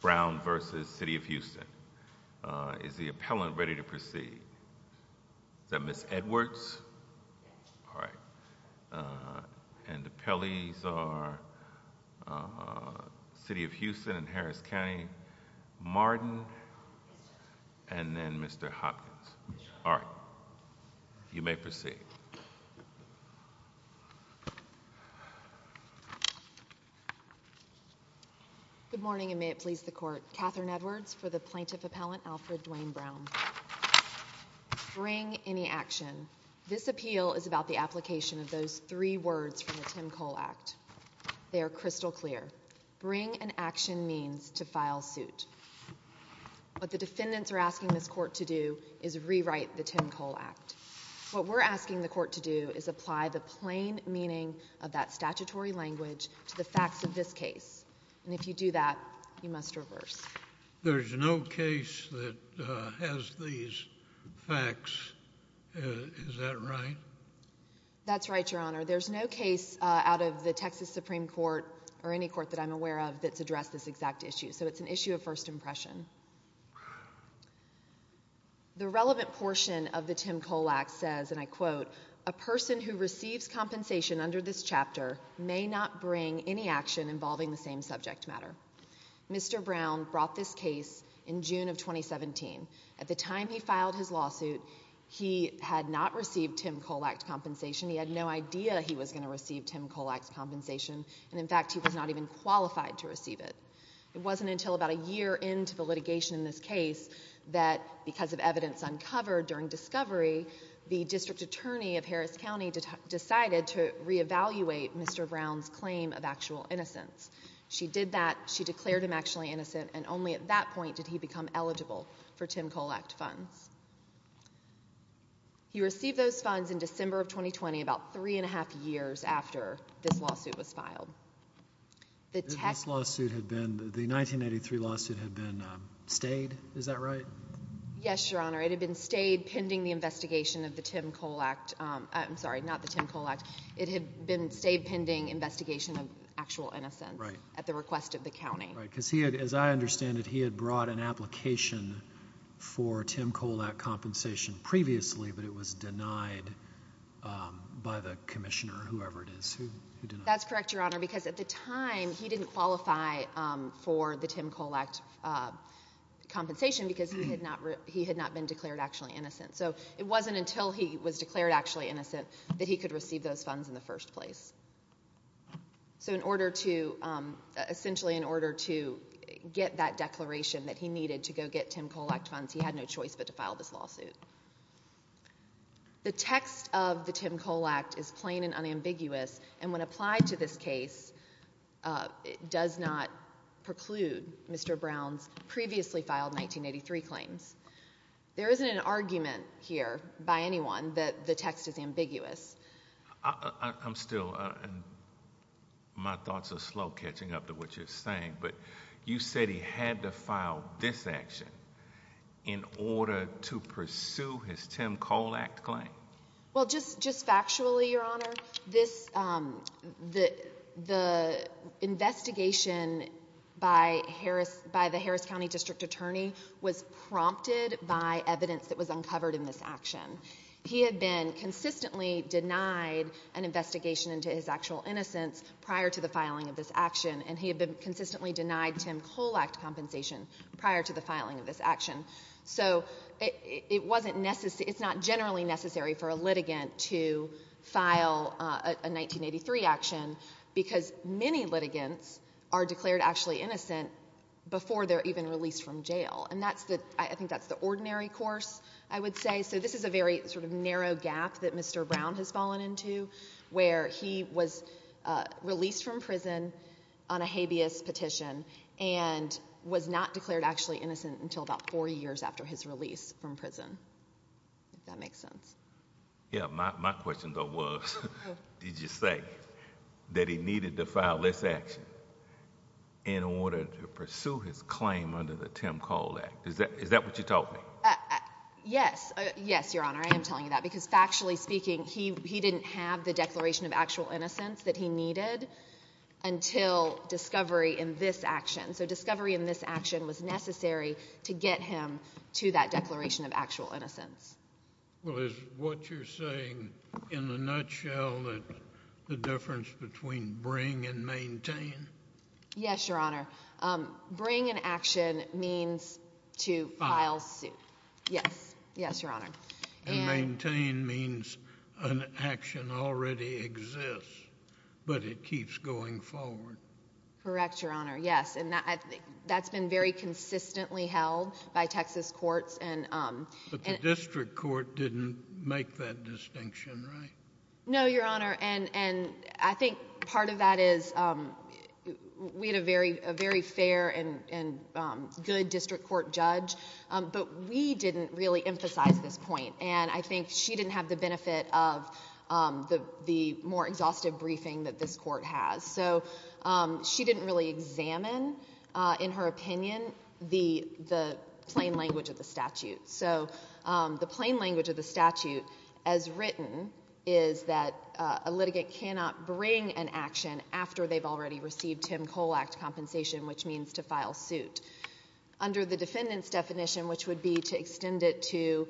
Brown v. City of Houston Is the appellant ready to proceed? Is that Ms. Edwards? All right. And the appellees are City of Houston and Harris County, Martin and then Mr. Hopkins. All right, you may proceed. Good morning, and may it please the court. Catherine Edwards for the plaintiff appellant Alfred Dwayne Brown. Bring any action. This appeal is about the application of those three words from the Tim Cole Act. They are crystal clear. Bring an action means to file suit. What the defendants are asking this court to do is rewrite the Tim Cole Act. What we're asking the court to do is apply the plain meaning of that statutory language to the facts of this case. And if you do that, you must reverse. There is no case that has these facts. Is that right? That's right, Your Honor. There's no case out of the Texas Supreme Court or any court that I'm aware of that's addressed this exact issue. So it's an issue of first I quote, a person who receives compensation under this chapter may not bring any action involving the same subject matter. Mr. Brown brought this case in June of 2017. At the time he filed his lawsuit, he had not received Tim Cole Act compensation. He had no idea he was going to receive Tim Cole Act compensation. And in fact, he was not even qualified to receive it. It wasn't until about a year into the litigation in this case that because of evidence uncovered during discovery, the district attorney of Harris County decided to re-evaluate Mr. Brown's claim of actual innocence. She did that. She declared him actually innocent. And only at that point did he become eligible for Tim Cole Act funds. He received those funds in December of 2020, about three and a half years after this lawsuit was filed. This lawsuit had been, the 1983 lawsuit had been stayed, is that right? Yes, your honor. It had been stayed pending the investigation of the Tim Cole Act. I'm sorry, not the Tim Cole Act. It had been stayed pending investigation of actual innocence at the request of the county. Right, because he had, as I understand it, he had brought an application for Tim Cole Act compensation previously, but it was denied by the commissioner, whoever it is. That's correct, your honor, because at the time he didn't qualify for the Tim Cole Act compensation because he had not been declared actually innocent. So it wasn't until he was declared actually innocent that he could receive those funds in the first place. So in order to, essentially in order to get that declaration that he needed to go get Tim Cole Act funds, he had no choice but to file this lawsuit. The text of the Tim Cole Act is plain and unambiguous, and when applied to this case, it does not preclude Mr. Brown's previously filed 1983 claims. There isn't an argument here by anyone that the text is ambiguous. I'm still, my thoughts are slow catching up to what you're saying, but you said he had to file this action in order to pursue his Tim Cole Act claim. Well, just factually, your honor, this, the investigation by Harris, by the Harris County District Attorney was prompted by evidence that was uncovered in this action. He had been consistently denied an investigation into his actual innocence prior to the filing of this action. He had consistently denied Tim Cole Act compensation prior to the filing of this action. So it wasn't necessary, it's not generally necessary for a litigant to file a 1983 action because many litigants are declared actually innocent before they're even released from jail. And that's the, I think that's the ordinary course, I would say. So this is a very sort of and was not declared actually innocent until about four years after his release from prison, if that makes sense. Yeah, my question though was, did you say that he needed to file this action in order to pursue his claim under the Tim Cole Act? Is that what you're talking? Yes, yes, your honor, I am telling you that because factually speaking, he didn't have the in this action. So discovery in this action was necessary to get him to that declaration of actual innocence. Well, is what you're saying in a nutshell that the difference between bring and maintain? Yes, your honor. Bring an action means to file suit. Yes, yes, your honor. And I think that's been very consistently held by Texas courts. But the district court didn't make that distinction, right? No, your honor. And I think part of that is we had a very fair and good district court judge, but we didn't really emphasize this point. And I think she didn't have benefit of the more exhaustive briefing that this court has. So she didn't really examine in her opinion the plain language of the statute. So the plain language of the statute as written is that a litigant cannot bring an action after they've already received Tim Cole Act compensation, which means to file suit. Under the defendant's definition, which would be to extend it to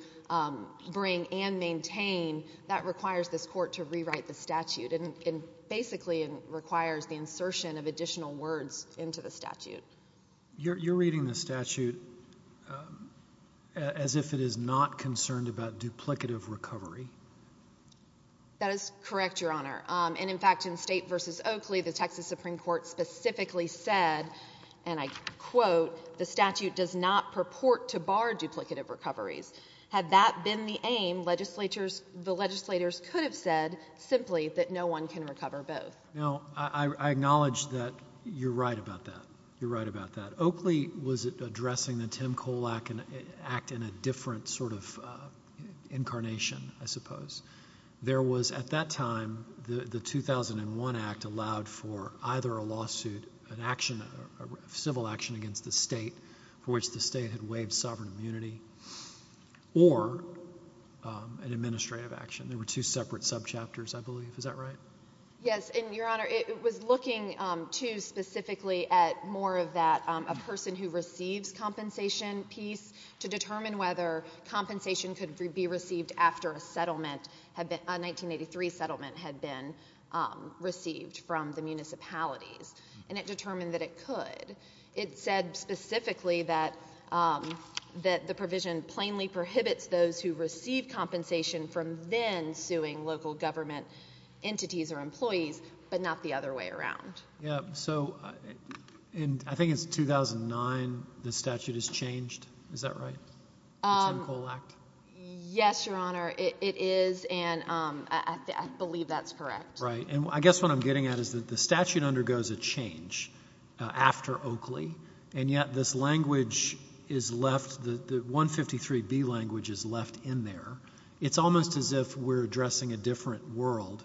bring and maintain, that requires this court to rewrite the statute and basically requires the insertion of additional words into the statute. You're reading the statute as if it is not concerned about duplicative recovery. That is correct, your honor. And in fact, in State v. Oakley, the Texas Supreme Court specifically said, and I quote, the statute does not purport to bar duplicative recoveries. Had that been the aim, the legislators could have said simply that no one can recover both. Now, I acknowledge that you're right about that. You're right about that. Oakley was addressing the Tim Cole Act in a different sort of incarnation, I suppose. There was, at that time, the 2001 Act allowed for either a lawsuit, a civil action against the state for which the state had sovereign immunity, or an administrative action. There were two separate subchapters, I believe. Is that right? Yes. And your honor, it was looking too specifically at more of that, a person who receives compensation piece to determine whether compensation could be received after a 1983 settlement had been received from the municipalities. And it determined that it could. It said specifically that the provision plainly prohibits those who receive compensation from then suing local government entities or employees, but not the other way around. Yeah. So, I think it's 2009 the statute is changed. Is that right? The Tim Cole Act? Yes, your honor. It is, and I believe that's correct. Right. And I guess what I'm getting at is that the statute undergoes a change after Oakley, and yet this language is left, the 153B language is left in there. It's almost as if we're addressing a different world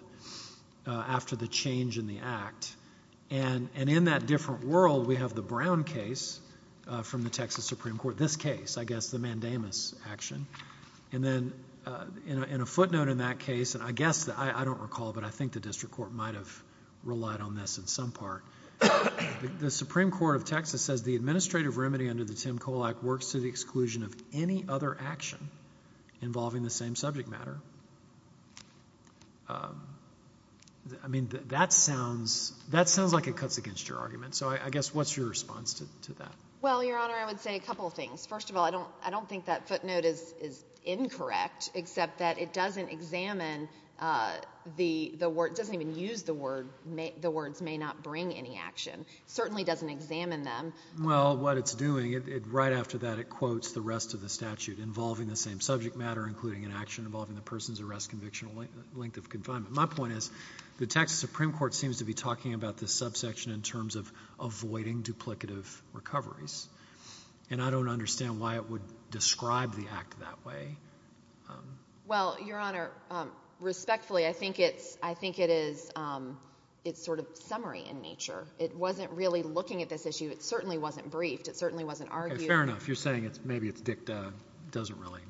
after the change in the Act. And in that different world, we have the Brown case from the Texas Supreme Court, this case, I guess, the Mandamus action. And then, in a footnote in that case, and I guess, I don't recall, but I think the district court might have relied on this in some part. The Supreme Court of Texas says the administrative remedy under the Tim Cole Act works to the exclusion of any other action involving the same subject matter. I mean, that sounds like it cuts against your argument. So, I guess, what's your response to that? Well, your honor, I would say a couple of things. First of all, I don't think that footnote is incorrect, except that it doesn't examine the word, it doesn't even use the word, the words may not bring any action. It certainly doesn't examine them. Well, what it's doing, right after that, it quotes the rest of the statute involving the same subject matter, including an action involving the person's arrest, conviction, length of confinement. My point is, the Texas Supreme Court seems to be talking about this subsection in terms of avoiding duplicative recoveries. And I don't understand why it would describe the act that way. Well, your honor, respectfully, I think it's, I think it is, it's sort of summary in nature. It wasn't really looking at this issue. It certainly wasn't briefed. It certainly wasn't argued. Fair enough. You're saying it's, maybe it's dicta, doesn't really.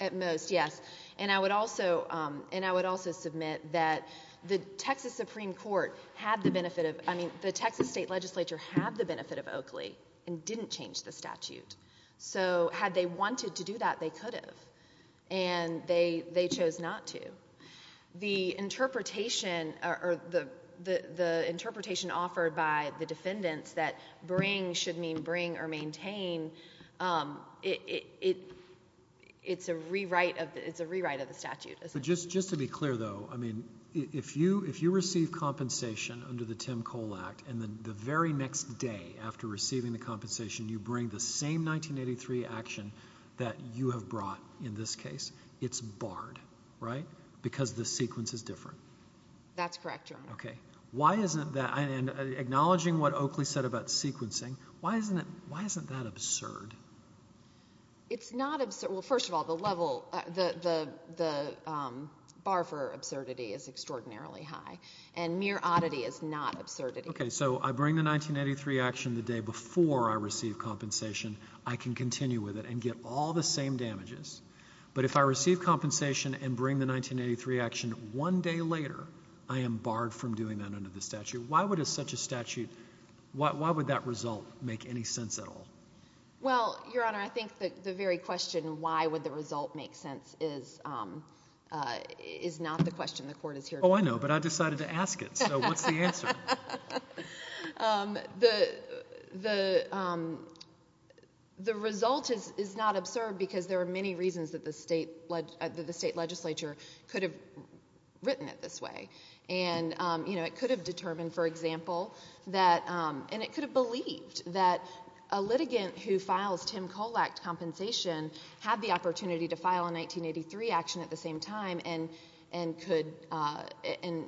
At most, yes. And I would also, and I would also submit that the Texas Supreme Court had the benefit of, I mean, the Texas state legislature had the benefit of Oakley and didn't change the statute. So had they wanted to do that, they could have. And they, they chose not to. The interpretation or the, the, the interpretation offered by the defendants that bring should mean bring or maintain, it, it, it, it's a rewrite of, it's a rewrite of the statute. But just, just to be clear though, I mean, if you, if you receive compensation under the Tim Cole Act and then the very next day after receiving the compensation, you bring the same 1983 action that you have brought in this case, it's barred, right? Because the sequence is different. That's correct, your honor. Okay. Why isn't that, and acknowledging what Oakley said about sequencing, why isn't it, why isn't that absurd? It's not absurd. Well, first of all, the level, the, the, the, um, bar for absurdity is extraordinarily high and mere oddity is not absurdity. Okay. So I bring the 1983 action the day before I receive compensation. I can continue with it and get all the same damages. But if I receive compensation and bring the 1983 action one day later, I am barred from doing that under the statute. Why would a such a statute, why would that result make any sense at all? Well, your honor, I think the very question, why would the result make sense is, um, uh, is not the question the court is here for. Oh, I know, but I decided to ask it. So what's the answer? Um, the, the, um, the result is, is not absurd because there are many reasons that the state, the state legislature could have written it this way. And, um, you know, it could have determined, for example, that, um, and it could have believed that a litigant who files Tim Cole Act compensation had the opportunity to file a 1983 action at the same time and, and could, uh, and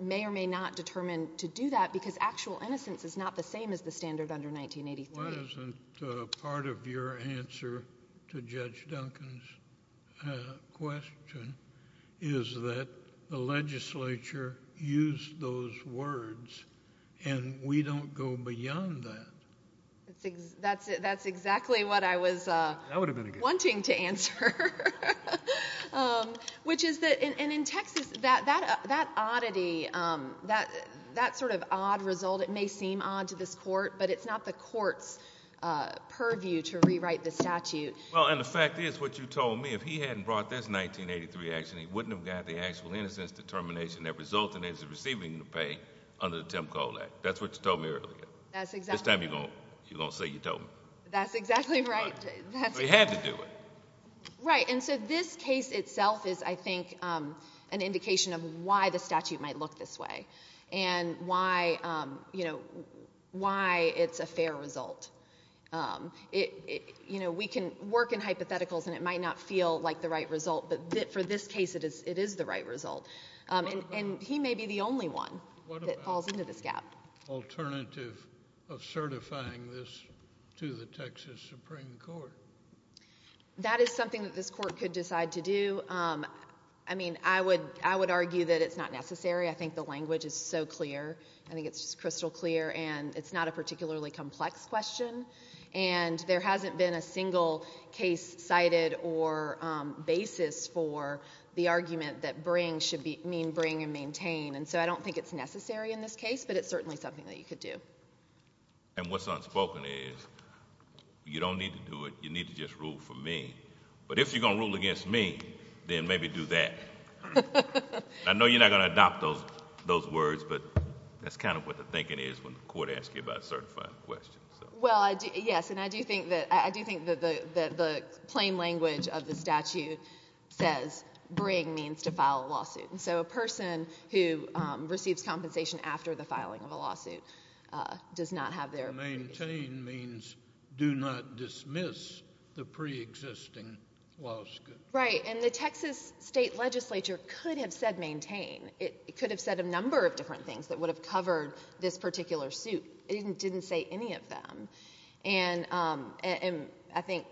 may or may not determine to do that because actual innocence is not the same as the standard under 1983. Why isn't, uh, part of your answer to Judge Duncan's, uh, question is that the legislature used those words and we don't go beyond that. That's exactly what I was, uh. Wanting to answer, um, which is that in, in, in Texas, that, that, that oddity, um, that, that sort of odd result, it may seem odd to this court, but it's not the court's, uh, purview to rewrite the statute. Well, and the fact is what you told me, if he hadn't brought this 1983 action, he wouldn't have got the actual innocence determination that resulted in his receiving the pay under the Tim Cole Act. That's what you told me earlier. That's exactly. This time you're going to, you're going to say you told me. That's exactly right. We had to do it. Right. And so this case itself is, I think, um, an indication of why the statute might look this way and why, um, you know, why it's a fair result. Um, it, you know, we can work in hypotheticals and it might not feel like the right result, but for this case, it is, it is the right result. Um, and, and he may be the only one that falls into this gap. Alternative of certifying this to the Texas Supreme Court. That is something that this court could decide to do. Um, I mean, I would, I would argue that it's not necessary. I think the language is so clear. I think it's crystal clear and it's not a particularly complex question and there hasn't been a single case cited or, um, basis for the argument that bring should be mean bring and maintain. And so I don't think it's necessary in this case, but it's certainly something that you could do. And what's unspoken is you don't need to do it. You need to just rule for me. But if you're going to rule against me, then maybe do that. I know you're not going to adopt those, those words, but that's kind of what the thinking is when the court asks you about certifying questions. Well, I do. Yes. And I do think that the, the, the plain language of the statute says bring means to file a lawsuit. And so a person who, um, receives compensation after the filing of a lawsuit, uh, does not have there. Maintain means do not dismiss the preexisting laws. Right. And the Texas state legislature could have said maintain. It could have said a number of different things that would have covered this particular suit. It didn't say any of them. And, um, and I think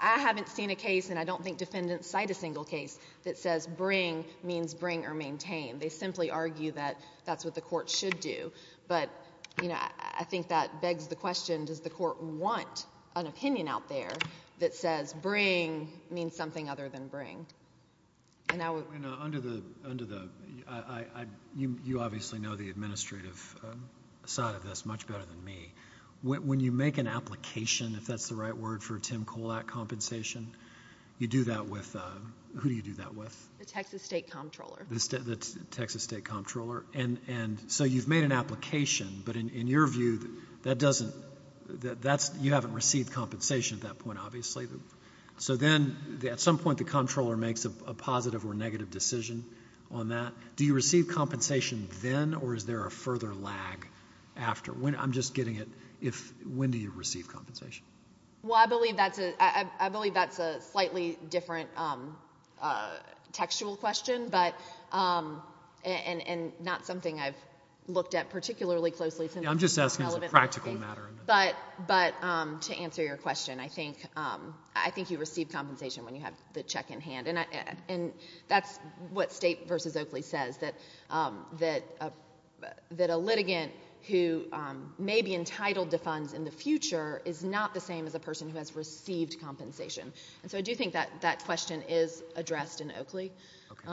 I haven't seen a case and I don't think defendants cite a single case that says bring means bring or maintain. They simply argue that that's what the court should do. But, you know, I think that begs the question, does the court want an opinion out there that says bring means something other than bring. And now under the, under the, I, I, I, you, obviously know the administrative side of this much better than me. When, when you make an application, if that's the right word for a Tim Kolak compensation, you do that with a, who do you do that with? The Texas state comptroller. The state, the Texas state comptroller. And, and so you've made an application, but in, in your view, that doesn't, that's, you haven't received compensation at that point, obviously. So then at some point the comptroller makes a positive or negative decision on that. Do you receive compensation then, or is there a further lag after? When, I'm just getting it, if, when do you receive compensation? Well, I believe that's a, I, I, I believe that's a slightly different textual question, but, and, and, and not something I've looked at particularly closely. Yeah, I'm just asking as a practical matter. But, but to answer your question, I think, I think you receive compensation when you have the check in hand. And I, and that's what State v. Oakley says, that, that, that a litigant who may be entitled to funds in the future is not the same as a person who has received compensation. And so I do think that, that question is addressed in Oakley. Okay.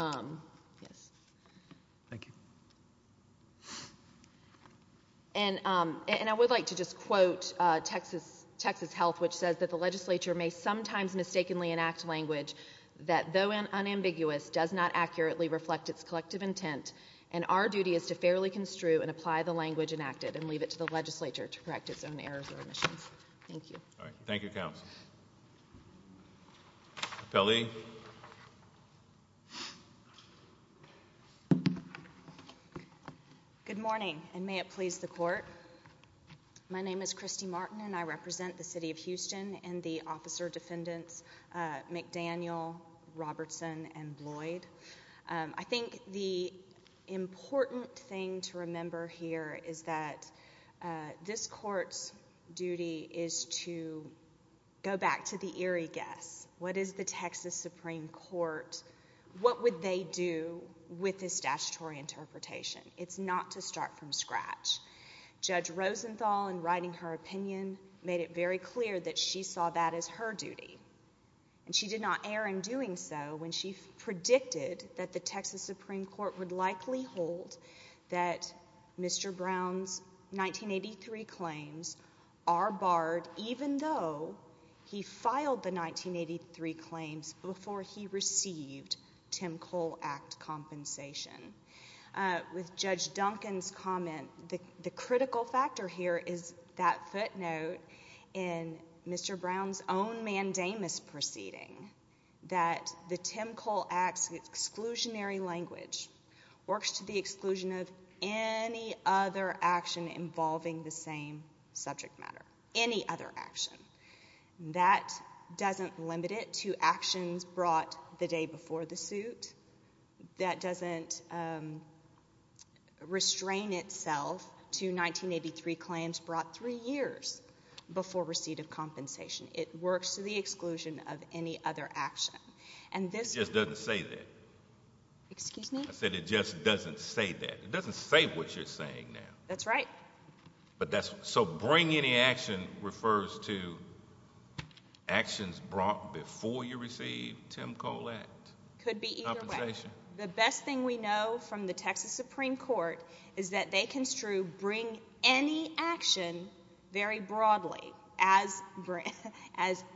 Yes. Thank you. And, and I would like to just quote Texas, Texas Health, which says that the legislature may sometimes mistakenly enact language that, though unambiguous, does not accurately reflect its collective intent. And our duty is to fairly construe and apply the language enacted and leave it to the legislature to correct its own errors or omissions. Thank you. All right. Thank you, counsel. Appellee. Good morning, and may it please the court. My name is Christy Martin, and I represent the City of Houston and the officer defendants McDaniel, Robertson, and Lloyd. I think the important thing to remember here is that this court's duty is to go back to the eerie guess. What is the Texas Supreme Court, what would they do with this statutory interpretation? It's not to start from scratch. Judge Rosenthal, in writing her opinion, made it very clear that she saw that as her duty, and she did not err in doing so when she predicted that the Texas Supreme Court would likely hold that Mr. Brown's 1983 claims are barred, even though he filed the judge Duncan's comment. The critical factor here is that footnote in Mr. Brown's own mandamus proceeding that the Tim Cole Act's exclusionary language works to the exclusion of any other action involving the same subject matter, any other action. That doesn't limit it to actions brought the day before the suit. That doesn't restrain itself to 1983 claims brought three years before receipt of compensation. It works to the exclusion of any other action, and this— It just doesn't say that. Excuse me? I said it just doesn't say that. It doesn't say what you're saying now. That's right. But that's—so, bring any action refers to actions brought before you received Tim Cole Act? Could be either way. Compensation? The best thing we know from the Texas Supreme Court is that they construe bring any action very broadly as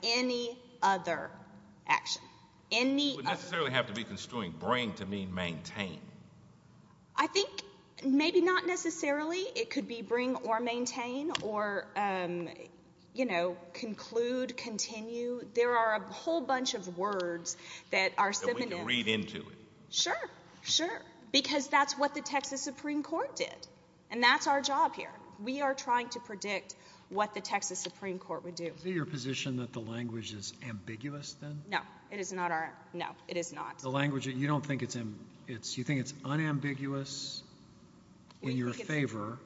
any other action. Any other— It wouldn't necessarily have to be construing bring to mean maintain. I think maybe not necessarily. It could be bring or maintain or, you know, conclude, continue. There are a whole bunch of words that are— That we can read into it. Sure. Sure. Because that's what the Texas Supreme Court did, and that's our job here. We are trying to predict what the Texas Supreme Court would do. Is it your position that the language is ambiguous, then? No, it is not our—no, it is not. You don't think it's—you think it's unambiguous in your favor.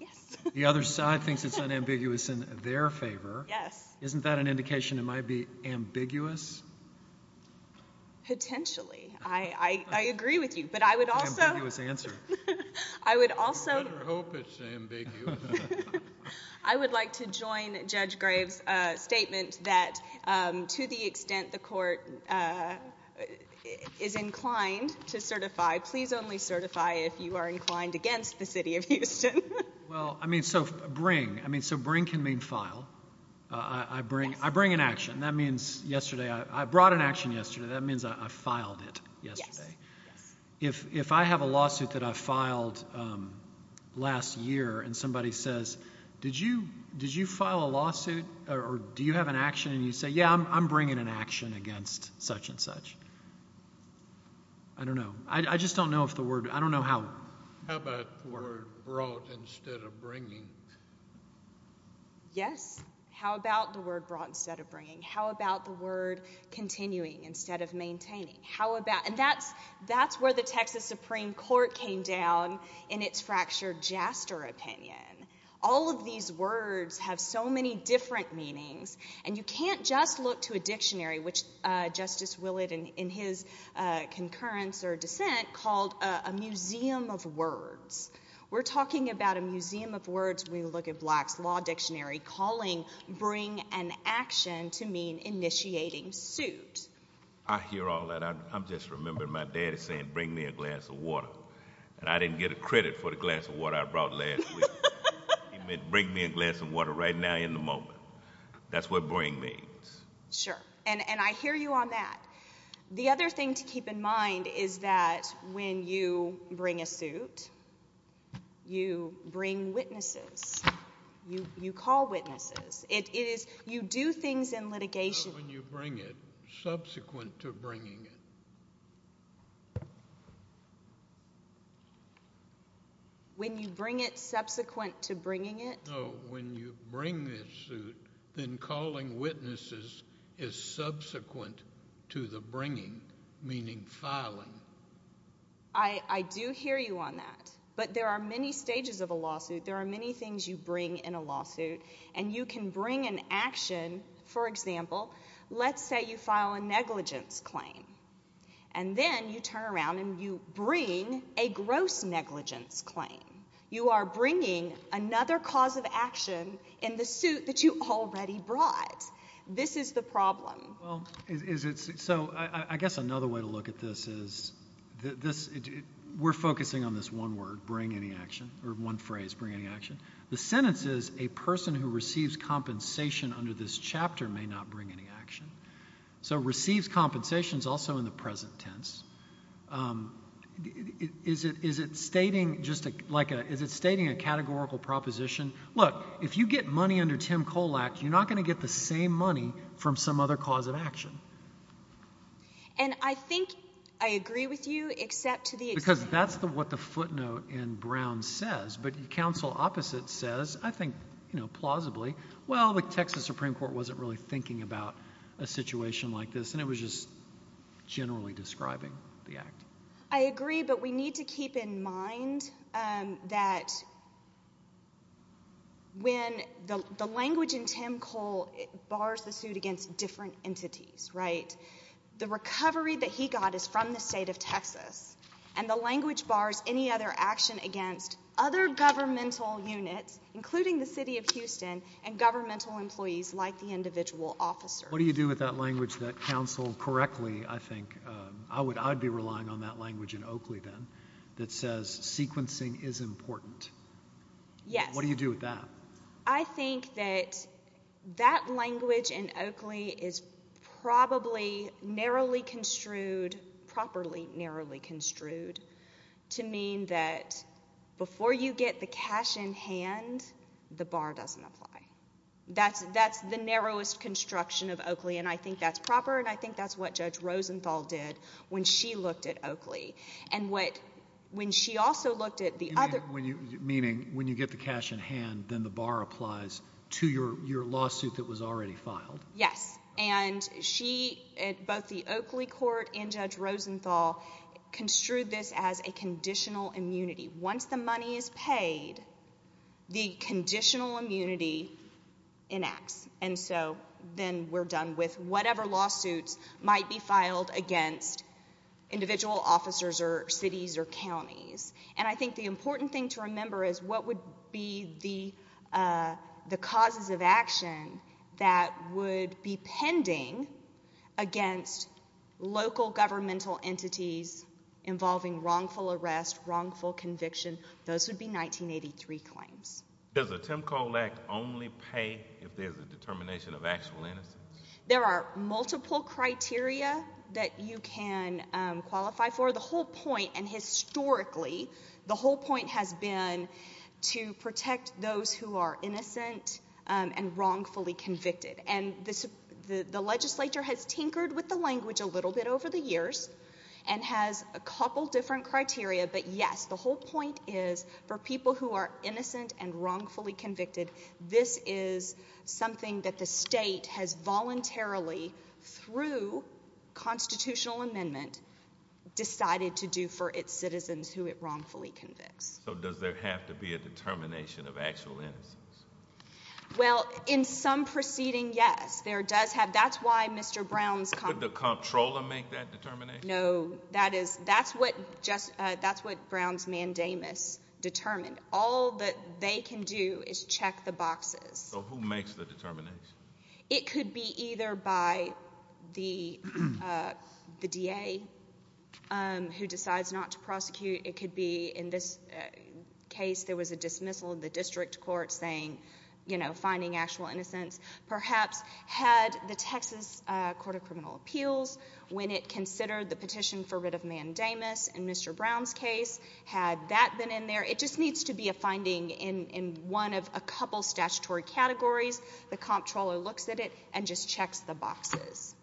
Yes. The other side thinks it's unambiguous in their favor. Yes. Isn't that an indication it might be ambiguous? Potentially. I agree with you, but I would also— Ambiguous answer. I would also— Better hope it's ambiguous. I would like to join Judge Graves' statement that to the extent the court is inclined to certify, please only certify if you are inclined against the city of Houston. Well, I mean, so bring—I mean, so bring can mean file. I bring an action. That means yesterday—I brought an action yesterday. That means I filed it yesterday. Yes. If I have a lawsuit that I filed last year and somebody says, did you file a lawsuit or do you have an action? And you say, yeah, I'm bringing an action against such and such. I don't know. I just don't know if the word—I don't know how— How about the word brought instead of bringing? Yes. How about the word brought instead of bringing? How about the word continuing instead of maintaining? How about—and that's where the Texas Supreme Court came down in its fractured Jaster opinion. All of these words have so many different meanings, and you can't just look to a dictionary, which Justice Willett in his concurrence or dissent called a museum of words. We're talking about a museum of words when you look at Black's law dictionary, calling bring an action to mean initiating suit. I hear all that. I'm just remembering my daddy saying, bring me a glass of water, and I didn't get a credit for the glass of water I brought last week. He meant bring me a glass of water right now in the moment. That's what bring means. Sure. And I hear you on that. The other thing to keep in mind is that when you bring a suit, you bring witnesses. You call witnesses. It is—you do things in litigation— Subsequent to bringing it. When you bring it subsequent to bringing it? No, when you bring this suit, then calling witnesses is subsequent to the bringing, meaning filing. I do hear you on that, but there are many stages of a lawsuit. There are many things you bring in a lawsuit, and you can bring an action. For example, let's say you file a negligence claim, and then you turn around and you bring a gross negligence claim. You are bringing another cause of action in the suit that you already brought. This is the problem. So I guess another way to look at this is we're focusing on this one word, bring any action, or one phrase, bring any action. The sentence is a person who receives compensation under this chapter may not bring any action. So receives compensation is also in the present tense. Is it stating just like a—is it stating a categorical proposition? Look, if you get money under Tim Kolak, you're not going to get the same money from some other cause of action. And I think I agree with you except to the— Because that's what the footnote in Brown says, but counsel opposite says, I think, you know, plausibly, well, the Texas Supreme Court wasn't really thinking about a situation like this, and it was just generally describing the act. I agree, but we need to keep in mind that when the language in Tim Kole bars the suit against different entities, right, the recovery that he got is from the state of Texas, and the language bars any other action against other governmental units, including the city of Houston, and governmental employees like the individual officer. What do you do with that language that counsel correctly, I think, I'd be relying on that language in Oakley then, that says sequencing is important. Yes. What do you do with that? I think that that language in Oakley is probably narrowly construed, properly narrowly construed, to mean that before you get the cash in hand, the bar doesn't apply. That's the narrowest construction of Oakley, and I think that's proper, and I think that's what Judge Rosenthal did when she looked at Oakley. And when she also looked at the other— Meaning, when you get the cash in hand, then the bar applies to your lawsuit that was already filed? Yes, and she at both the Oakley court and Judge Rosenthal construed this as a conditional immunity. Once the money is paid, the conditional immunity enacts, and so then we're done with whatever lawsuits might be filed against individual officers or cities or counties. And I think the important thing to remember is what would be the causes of action that would be pending against local governmental entities involving wrongful arrest, wrongful conviction. Those would be 1983 claims. Does the Tim Cole Act only pay if there's a determination of actual innocence? There are multiple criteria that you can qualify for. The whole point, and historically, the whole point has been to protect those who are innocent and wrongfully convicted, and the legislature has tinkered with the language a little bit over the years and has a couple different criteria, but yes, the whole point is for people who are innocent and wrongfully convicted, this is something that the state has voluntarily, through constitutional amendment, decided to do for its citizens who it wrongfully convicts. So does there have to be a determination of actual innocence? Well, in some proceeding, yes. That's why Mr. Brown's... Would the comptroller make that determination? No. That's what Brown's mandamus determined. All that they can do is check the boxes. So who makes the determination? It could be either by the DA who decides not to prosecute. It could be, in this case, there was a dismissal in the district court saying, you know, finding actual innocence. Perhaps had the Texas Court of Criminal Appeals, when it considered the petition for rid of mandamus in Mr. Brown's case, had that been in there? It just needs to be a finding in one of a couple statutory categories. The comptroller looks at it and just checks the boxes.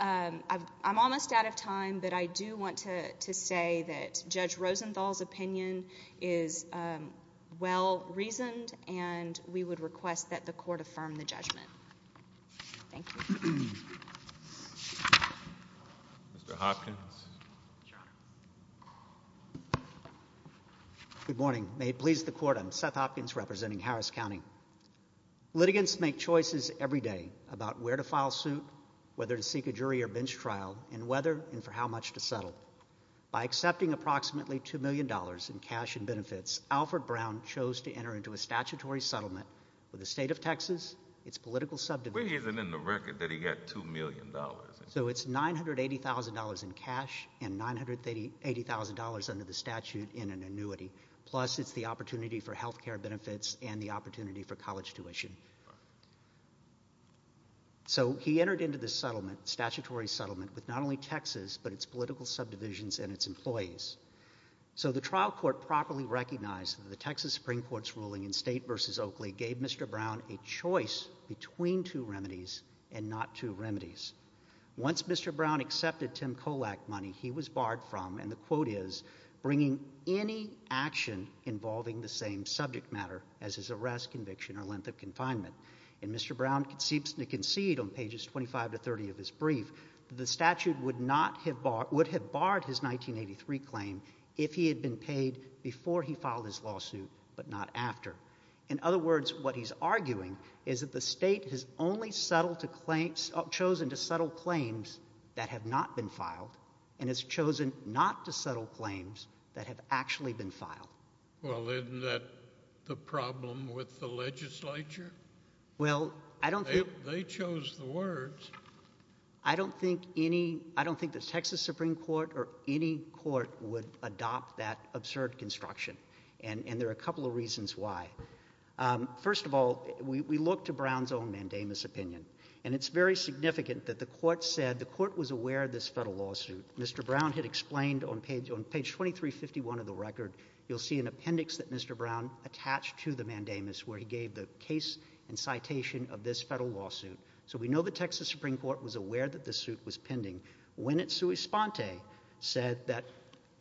I'm almost out of time, but I do want to say that Judge Rosenthal's opinion is well-reasoned, and we would request that the court affirm the judgment. Thank you. Mr. Hopkins. Good morning. May it please the court, I'm Seth Hopkins representing Harris County. Litigants make choices every day about where to file suit, whether to seek a jury or bench trial, and whether and for how much to settle. By accepting approximately $2 million in cash benefits, Alfred Brown chose to enter into a statutory settlement with the state of Texas, its political subdivision. Where is it in the record that he got $2 million? So it's $980,000 in cash and $980,000 under the statute in an annuity. Plus, it's the opportunity for health care benefits and the opportunity for college tuition. So he entered into this settlement, statutory settlement, with not only Texas, but its political subdivisions and its employees. So the trial court properly recognized that the Texas Supreme Court's ruling in State v. Oakley gave Mr. Brown a choice between two remedies and not two remedies. Once Mr. Brown accepted Tim Kolak money, he was barred from, and the quote is, bringing any action involving the same subject matter as his arrest, conviction, or length of confinement. And Mr. Brown seems to concede on pages 25 to 30 of his brief that the statute would have barred his 1983 claim if he had been paid before he filed his lawsuit, but not after. In other words, what he's arguing is that the state has only chosen to settle claims that have not been filed and has chosen not to settle claims that have actually been filed. Well, isn't that the problem with the legislature? Well, I don't think— They chose the words. I don't think any—I don't think the Texas Supreme Court or any court would adopt that absurd construction, and there are a couple of reasons why. First of all, we look to Brown's own mandamus opinion, and it's very significant that the court said—the court was aware of this federal lawsuit. Mr. Brown had explained on page 2351 of the record, you'll see an appendix that Mr. Brown attached to the mandamus where he gave the case and citation of this federal lawsuit. So we know the Texas Supreme Court was aware that this suit was pending when it sui sponte said that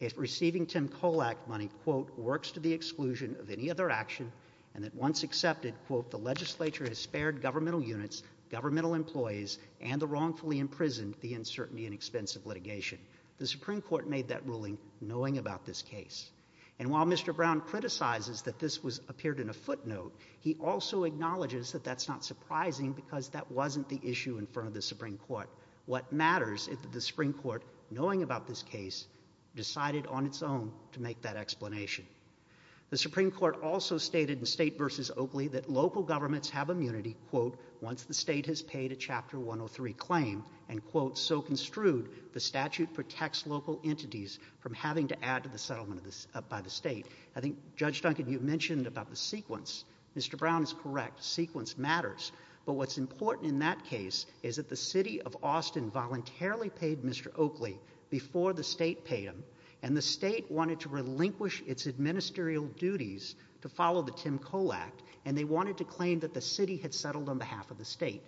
if receiving Tim Kohl Act money, quote, works to the exclusion of any other action, and that once accepted, quote, the legislature has spared governmental units, governmental employees, and the wrongfully imprisoned the uncertainty and expense of litigation. The Supreme Court made that ruling knowing about this case. And while Mr. Brown criticizes that this was appeared in a footnote, he also acknowledges that that's not surprising because that wasn't the issue in front of the Supreme Court. What matters is that the Supreme Court, knowing about this case, decided on its own to make that explanation. The Supreme Court also stated in State versus Oakley that local governments have immunity, quote, once the state has paid a Chapter 103 claim, and, quote, so construed, the statute protects local entities from having to add to the settlement by the state. I think, Judge Duncan, you mentioned about the sequence. Mr. Brown is correct. Sequence matters. But what's important in that case is that the city of Austin voluntarily paid Mr. Oakley before the state paid him, and the state wanted to relinquish its administerial duties to follow the Tim Kohl Act, and they wanted to claim that the city had settled on behalf of the state.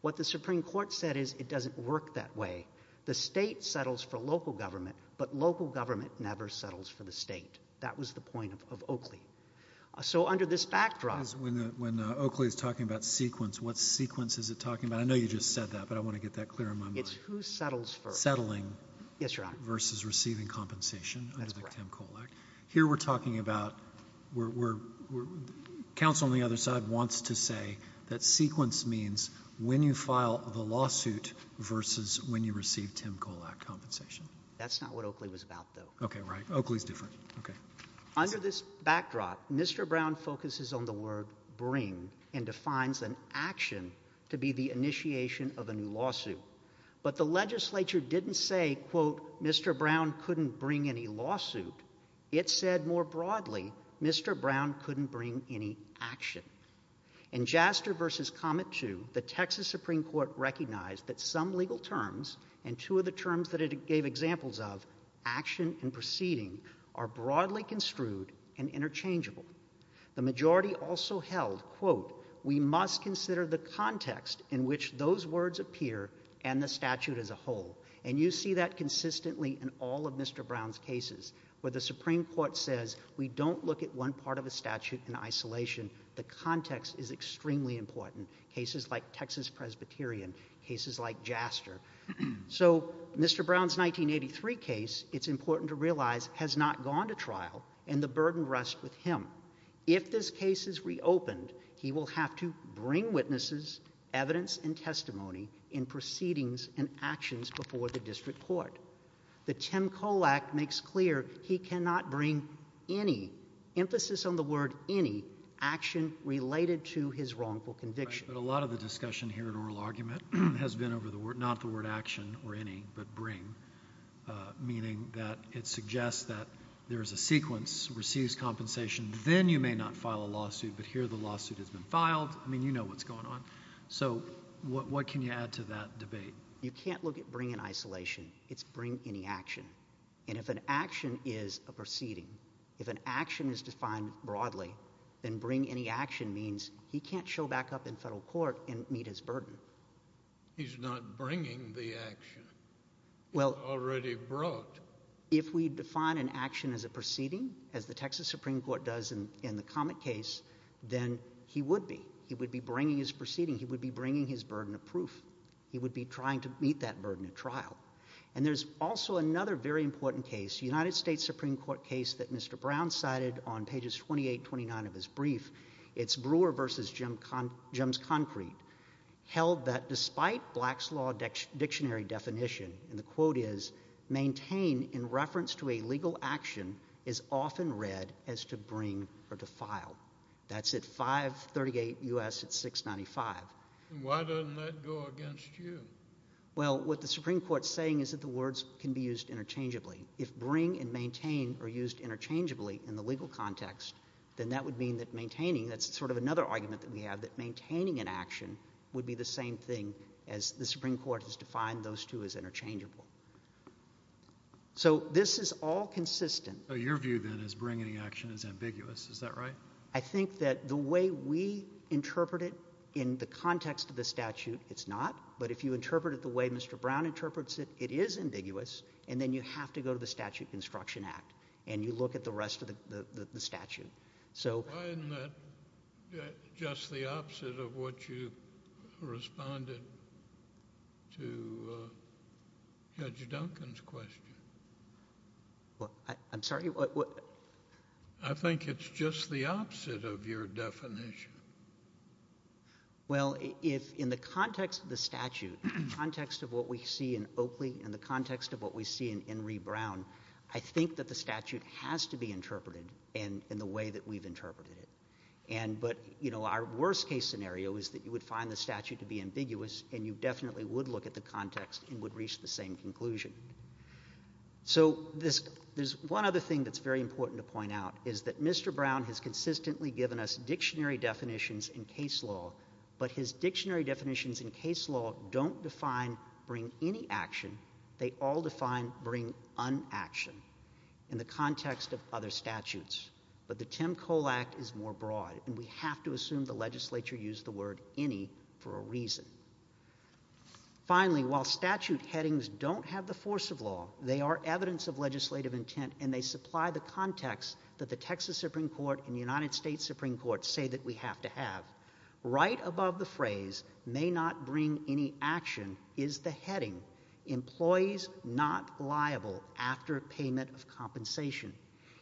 What the Supreme Court said is it doesn't work that way. The state settles for local government, but local government never settles for the state. That was the point of Oakley. So under this backdrop— Because when Oakley is talking about sequence, what sequence is it talking about? I know you just said that, but I want to get that clear in my mind. It's who settles first. Settling— Yes, Your Honor. —versus receiving compensation under the Tim Kohl Act. Here we're talking about, counsel on the other side wants to say that sequence means when you file the lawsuit versus when you receive Tim Kohl Act compensation. That's not what Oakley was about, though. Okay, right. Oakley's different. Okay. Under this backdrop, Mr. Brown focuses on the word bring and defines an action to be the initiation of a new lawsuit. But the legislature didn't say, quote, Mr. Brown couldn't bring any lawsuit. It said more broadly, Mr. Brown couldn't bring any action. In Jaster v. Comet 2, the Texas Supreme Court recognized that some legal terms and two of the examples of action and proceeding are broadly construed and interchangeable. The majority also held, quote, we must consider the context in which those words appear and the statute as a whole. And you see that consistently in all of Mr. Brown's cases, where the Supreme Court says we don't look at one part of a statute in isolation. The context is extremely important, cases like Texas-Presbyterian, cases like Jaster. So Mr. Brown's 1983 case, it's important to realize, has not gone to trial, and the burden rests with him. If this case is reopened, he will have to bring witnesses, evidence, and testimony in proceedings and actions before the district court. The Tim Kohl Act makes clear he cannot bring any, emphasis on the word any, action related to his wrongful conviction. A lot of the discussion here in oral argument has been over the word, not the word action or any, but bring, meaning that it suggests that there is a sequence, receives compensation, then you may not file a lawsuit, but here the lawsuit has been filed. I mean, you know what's going on. So what can you add to that debate? You can't look at bring in isolation. It's bring any action. And if an action is a proceeding, if an action is defined broadly, then bring any action means he can't show back up in federal court and meet his burden. He's not bringing the action. He's already brought. If we define an action as a proceeding, as the Texas Supreme Court does in the Comet case, then he would be. He would be bringing his proceeding. He would be bringing his burden of proof. He would be trying to meet that burden of trial. And there's also another very important case, United States Supreme Court case that Mr. Brown cited on pages 28, 29 of his brief. It's Brewer v. Jim's Concrete, held that despite Black's Law dictionary definition, and the quote is, maintain in reference to a legal action is often read as to bring or to file. That's at 538 U.S. at 695. Why doesn't that go against you? Well, what the Supreme Court's saying is that the words can be used interchangeably. If bring and maintain are used interchangeably in the legal context, then that would mean that maintaining, that's sort of another argument that we have, that maintaining an action would be the same thing as the Supreme Court has defined those two as interchangeable. So this is all consistent. So your view then is bring any action is ambiguous. Is that right? I think that the way we interpret it in the context of the statute, it's not. But if you interpret it the way Mr. Brown interprets it, it is ambiguous. And then you have to go to the Statute Construction Act, and you look at the rest of the statute. Why isn't that just the opposite of what you responded to Judge Duncan's question? Well, I'm sorry? I think it's just the opposite of your definition. Well, if in the context of the statute, in the context of what we see in Oakley, in the context of what we see in Enri Brown, I think that the statute has to be interpreted in the way that we've interpreted it. But, you know, our worst case scenario is that you would find the statute to be ambiguous, and you definitely would look at the context and would reach the same conclusion. So there's one other thing that's very important to point out, is that Mr. Brown has consistently given us dictionary definitions in case law, but his dictionary definitions in case law don't define bring any action, they all define bring unaction in the context of other statutes. But the Tim Cole Act is more broad, and we have to assume the legislature used the word any for a reason. Finally, while statute headings don't have the force of law, they are evidence of legislative intent, and they supply the context that the Texas Supreme Court and the United States Supreme Court say that we have to have. Right above the phrase may not bring any action is the heading, employees not liable after payment of compensation.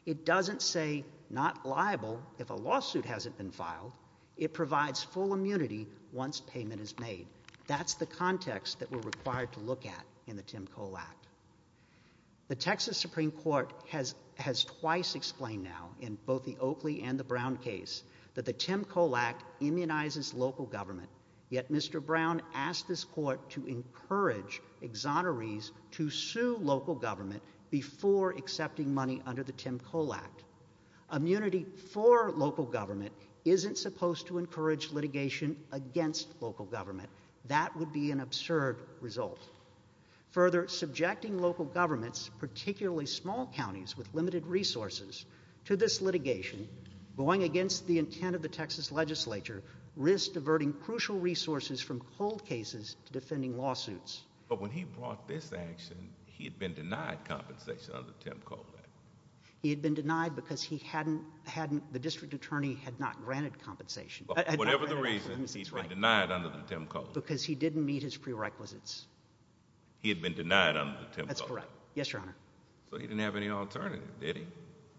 It doesn't say not liable if a lawsuit hasn't been filed, it provides full immunity once payment is made. That's the context that we're required to look at in the Tim Cole Act. The Texas Supreme Court has twice explained now, in both the Oakley and the Brown case, that the Tim Cole Act immunizes local government, yet Mr. Brown asked this court to encourage exonerees to sue local government before accepting money under the Tim Cole Act. Immunity for local government isn't supposed to encourage litigation against local government. That would be an absurd result. Further, subjecting local governments, particularly small counties with limited resources, to this litigation, going against the intent of the Texas legislature, risks diverting crucial resources from cold cases to defending lawsuits. But when he brought this action, he had been denied compensation under the Tim Cole Act. He had been denied because the district attorney had not granted compensation. Whatever the reason, he's been denied under the Tim Cole Act. Because he didn't meet his prerequisites. He had been denied under the Tim Cole Act. That's correct. Yes, Your Honor. So he didn't have any alternative, did he?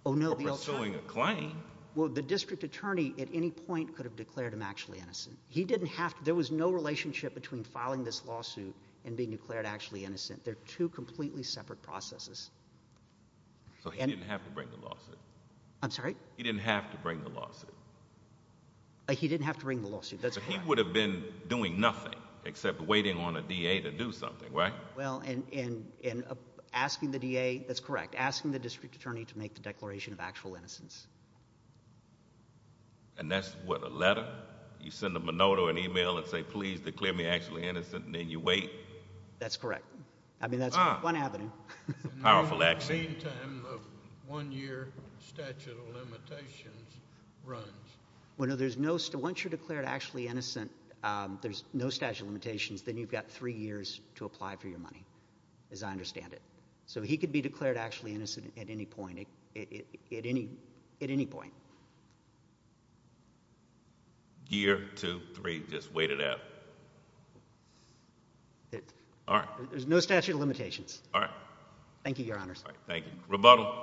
Oh, no. For pursuing a claim? Well, the district attorney at any point could have declared him actually innocent. He didn't have to. There was no relationship between filing this lawsuit and being declared actually innocent. They're two completely separate processes. So he didn't have to bring the lawsuit? I'm sorry? He didn't have to bring the lawsuit? He didn't have to bring the lawsuit. That's correct. He would have been doing nothing except waiting on a D.A. to do something, right? Well, and asking the D.A. That's correct. Asking the district attorney to make the declaration of actual innocence. And that's what, a letter? You send a monotone e-mail and say, please declare me actually innocent, and then you wait? That's correct. I mean, that's one avenue. Powerful action. In the meantime, the one-year statute of limitations runs. Well, no, once you're declared actually innocent, there's no statute of limitations. Then you've got three years to apply for your money, as I understand it. So he could be declared actually innocent at any point. At any point. Year, two, three, just wait it out. All right. There's no statute of limitations. All right. Thank you, Your Honors. Thank you. Rebuttal.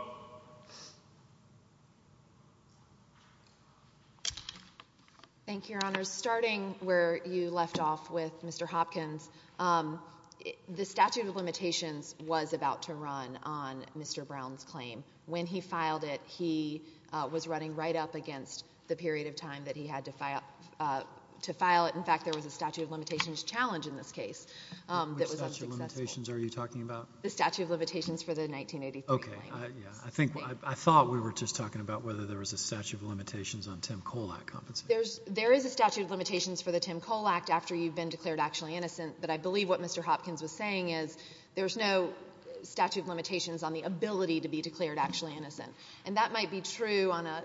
Thank you, Your Honors. Starting where you left off with Mr. Hopkins, the statute of limitations was about to run on Mr. Brown's claim. When he filed it, he was running right up against the period of time that he had to file it. In fact, there was a statute of limitations challenge in this case that was unsuccessful. What statute of limitations are you talking about? The statute of limitations for the 1983 claim. Okay. Yeah. I thought we were just talking about whether there was a statute of limitations on Tim Kohl Act compensation. There is a statute of limitations for the Tim Kohl Act after you've been declared actually innocent. But I believe what Mr. Hopkins was saying is there's no statute of limitations on the ability to be declared actually innocent. And that might be true on a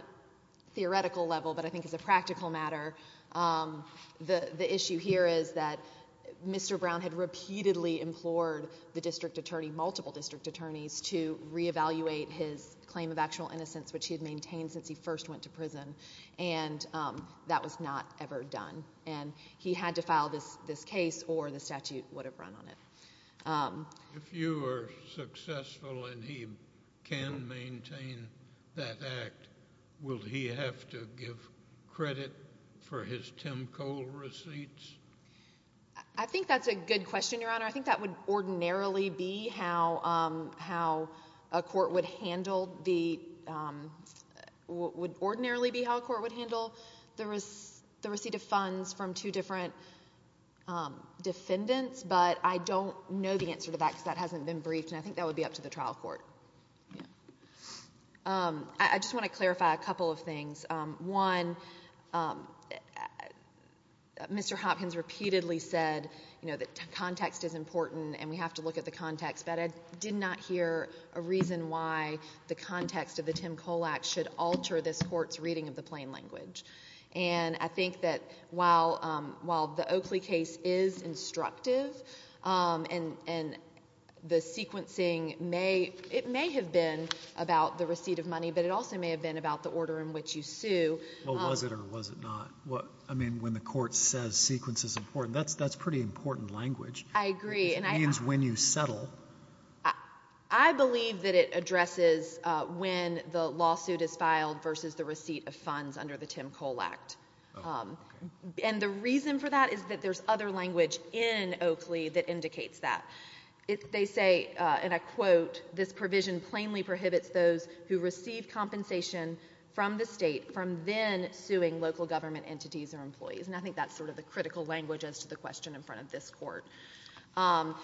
theoretical level, but I think as a practical matter, the issue here is that Mr. Brown had repeatedly implored the district attorney, multiple district attorneys, to reevaluate his claim of actual innocence, which he had maintained since he first went to prison. And that was not ever done. And he had to file this case or the statute would have run on it. If you are successful and he can maintain that act, will he have to give credit for his Tim Kohl receipts? I think that's a good question, Your Honor. I think that would ordinarily be how a court would handle the receipt of funds from two different defendants, but I don't know the answer to that because that hasn't been briefed. And I think that would be up to the trial court. I just want to clarify a couple of things. One, Mr. Hopkins repeatedly said, you know, that context is important and we have to look at the context, but I did not hear a reason why the context of the Tim Kohl Act should alter this court's reading of the plain language. And I think that while the Oakley case is instructive and the sequencing may, it may have been about the receipt of money, but it also may have been about the order in which you sue. Well, was it or was it not? I mean, when the court says sequence is important, that's pretty important language. I agree. Which means when you settle. I believe that it addresses when the lawsuit is filed versus the receipt of funds under the Tim Kohl Act. And the reason for that is that there's other language in Oakley that indicates that. They say, and I quote, this provision plainly prohibits those who receive compensation from the state from then suing local government entities or employees. And I think that's sort of the critical language as to the question in front of this court.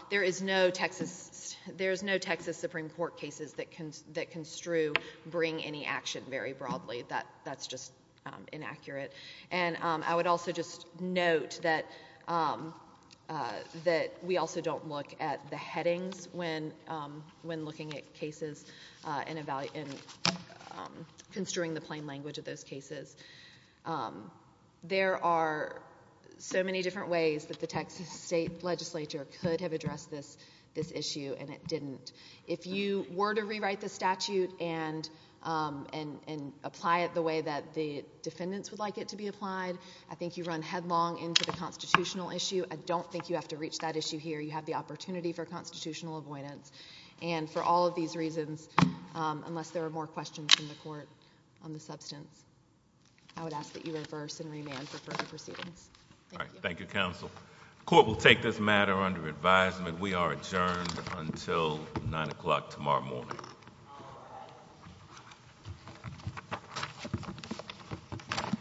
There is no Texas, there's no Texas Supreme Court cases that can, that construe bring any action very broadly. That, that's just inaccurate. And I would also just note that, that we also don't look at the headings when, when looking at cases and, and construing the plain language of those cases. There are so many different ways that the Texas State Legislature could have addressed this, this issue, and it didn't. If you were to rewrite the statute and, and, and apply it the way that the defendants would like it to be applied, I think you run headlong into the constitutional issue. I don't think you have to reach that issue here. You have the opportunity for constitutional avoidance. And for all of these reasons, unless there are more questions from the court on the substance, I would ask that you reverse and remand for further proceedings. All right. Thank you, counsel. Court will take this matter under advisement. We are adjourned until nine o'clock tomorrow morning.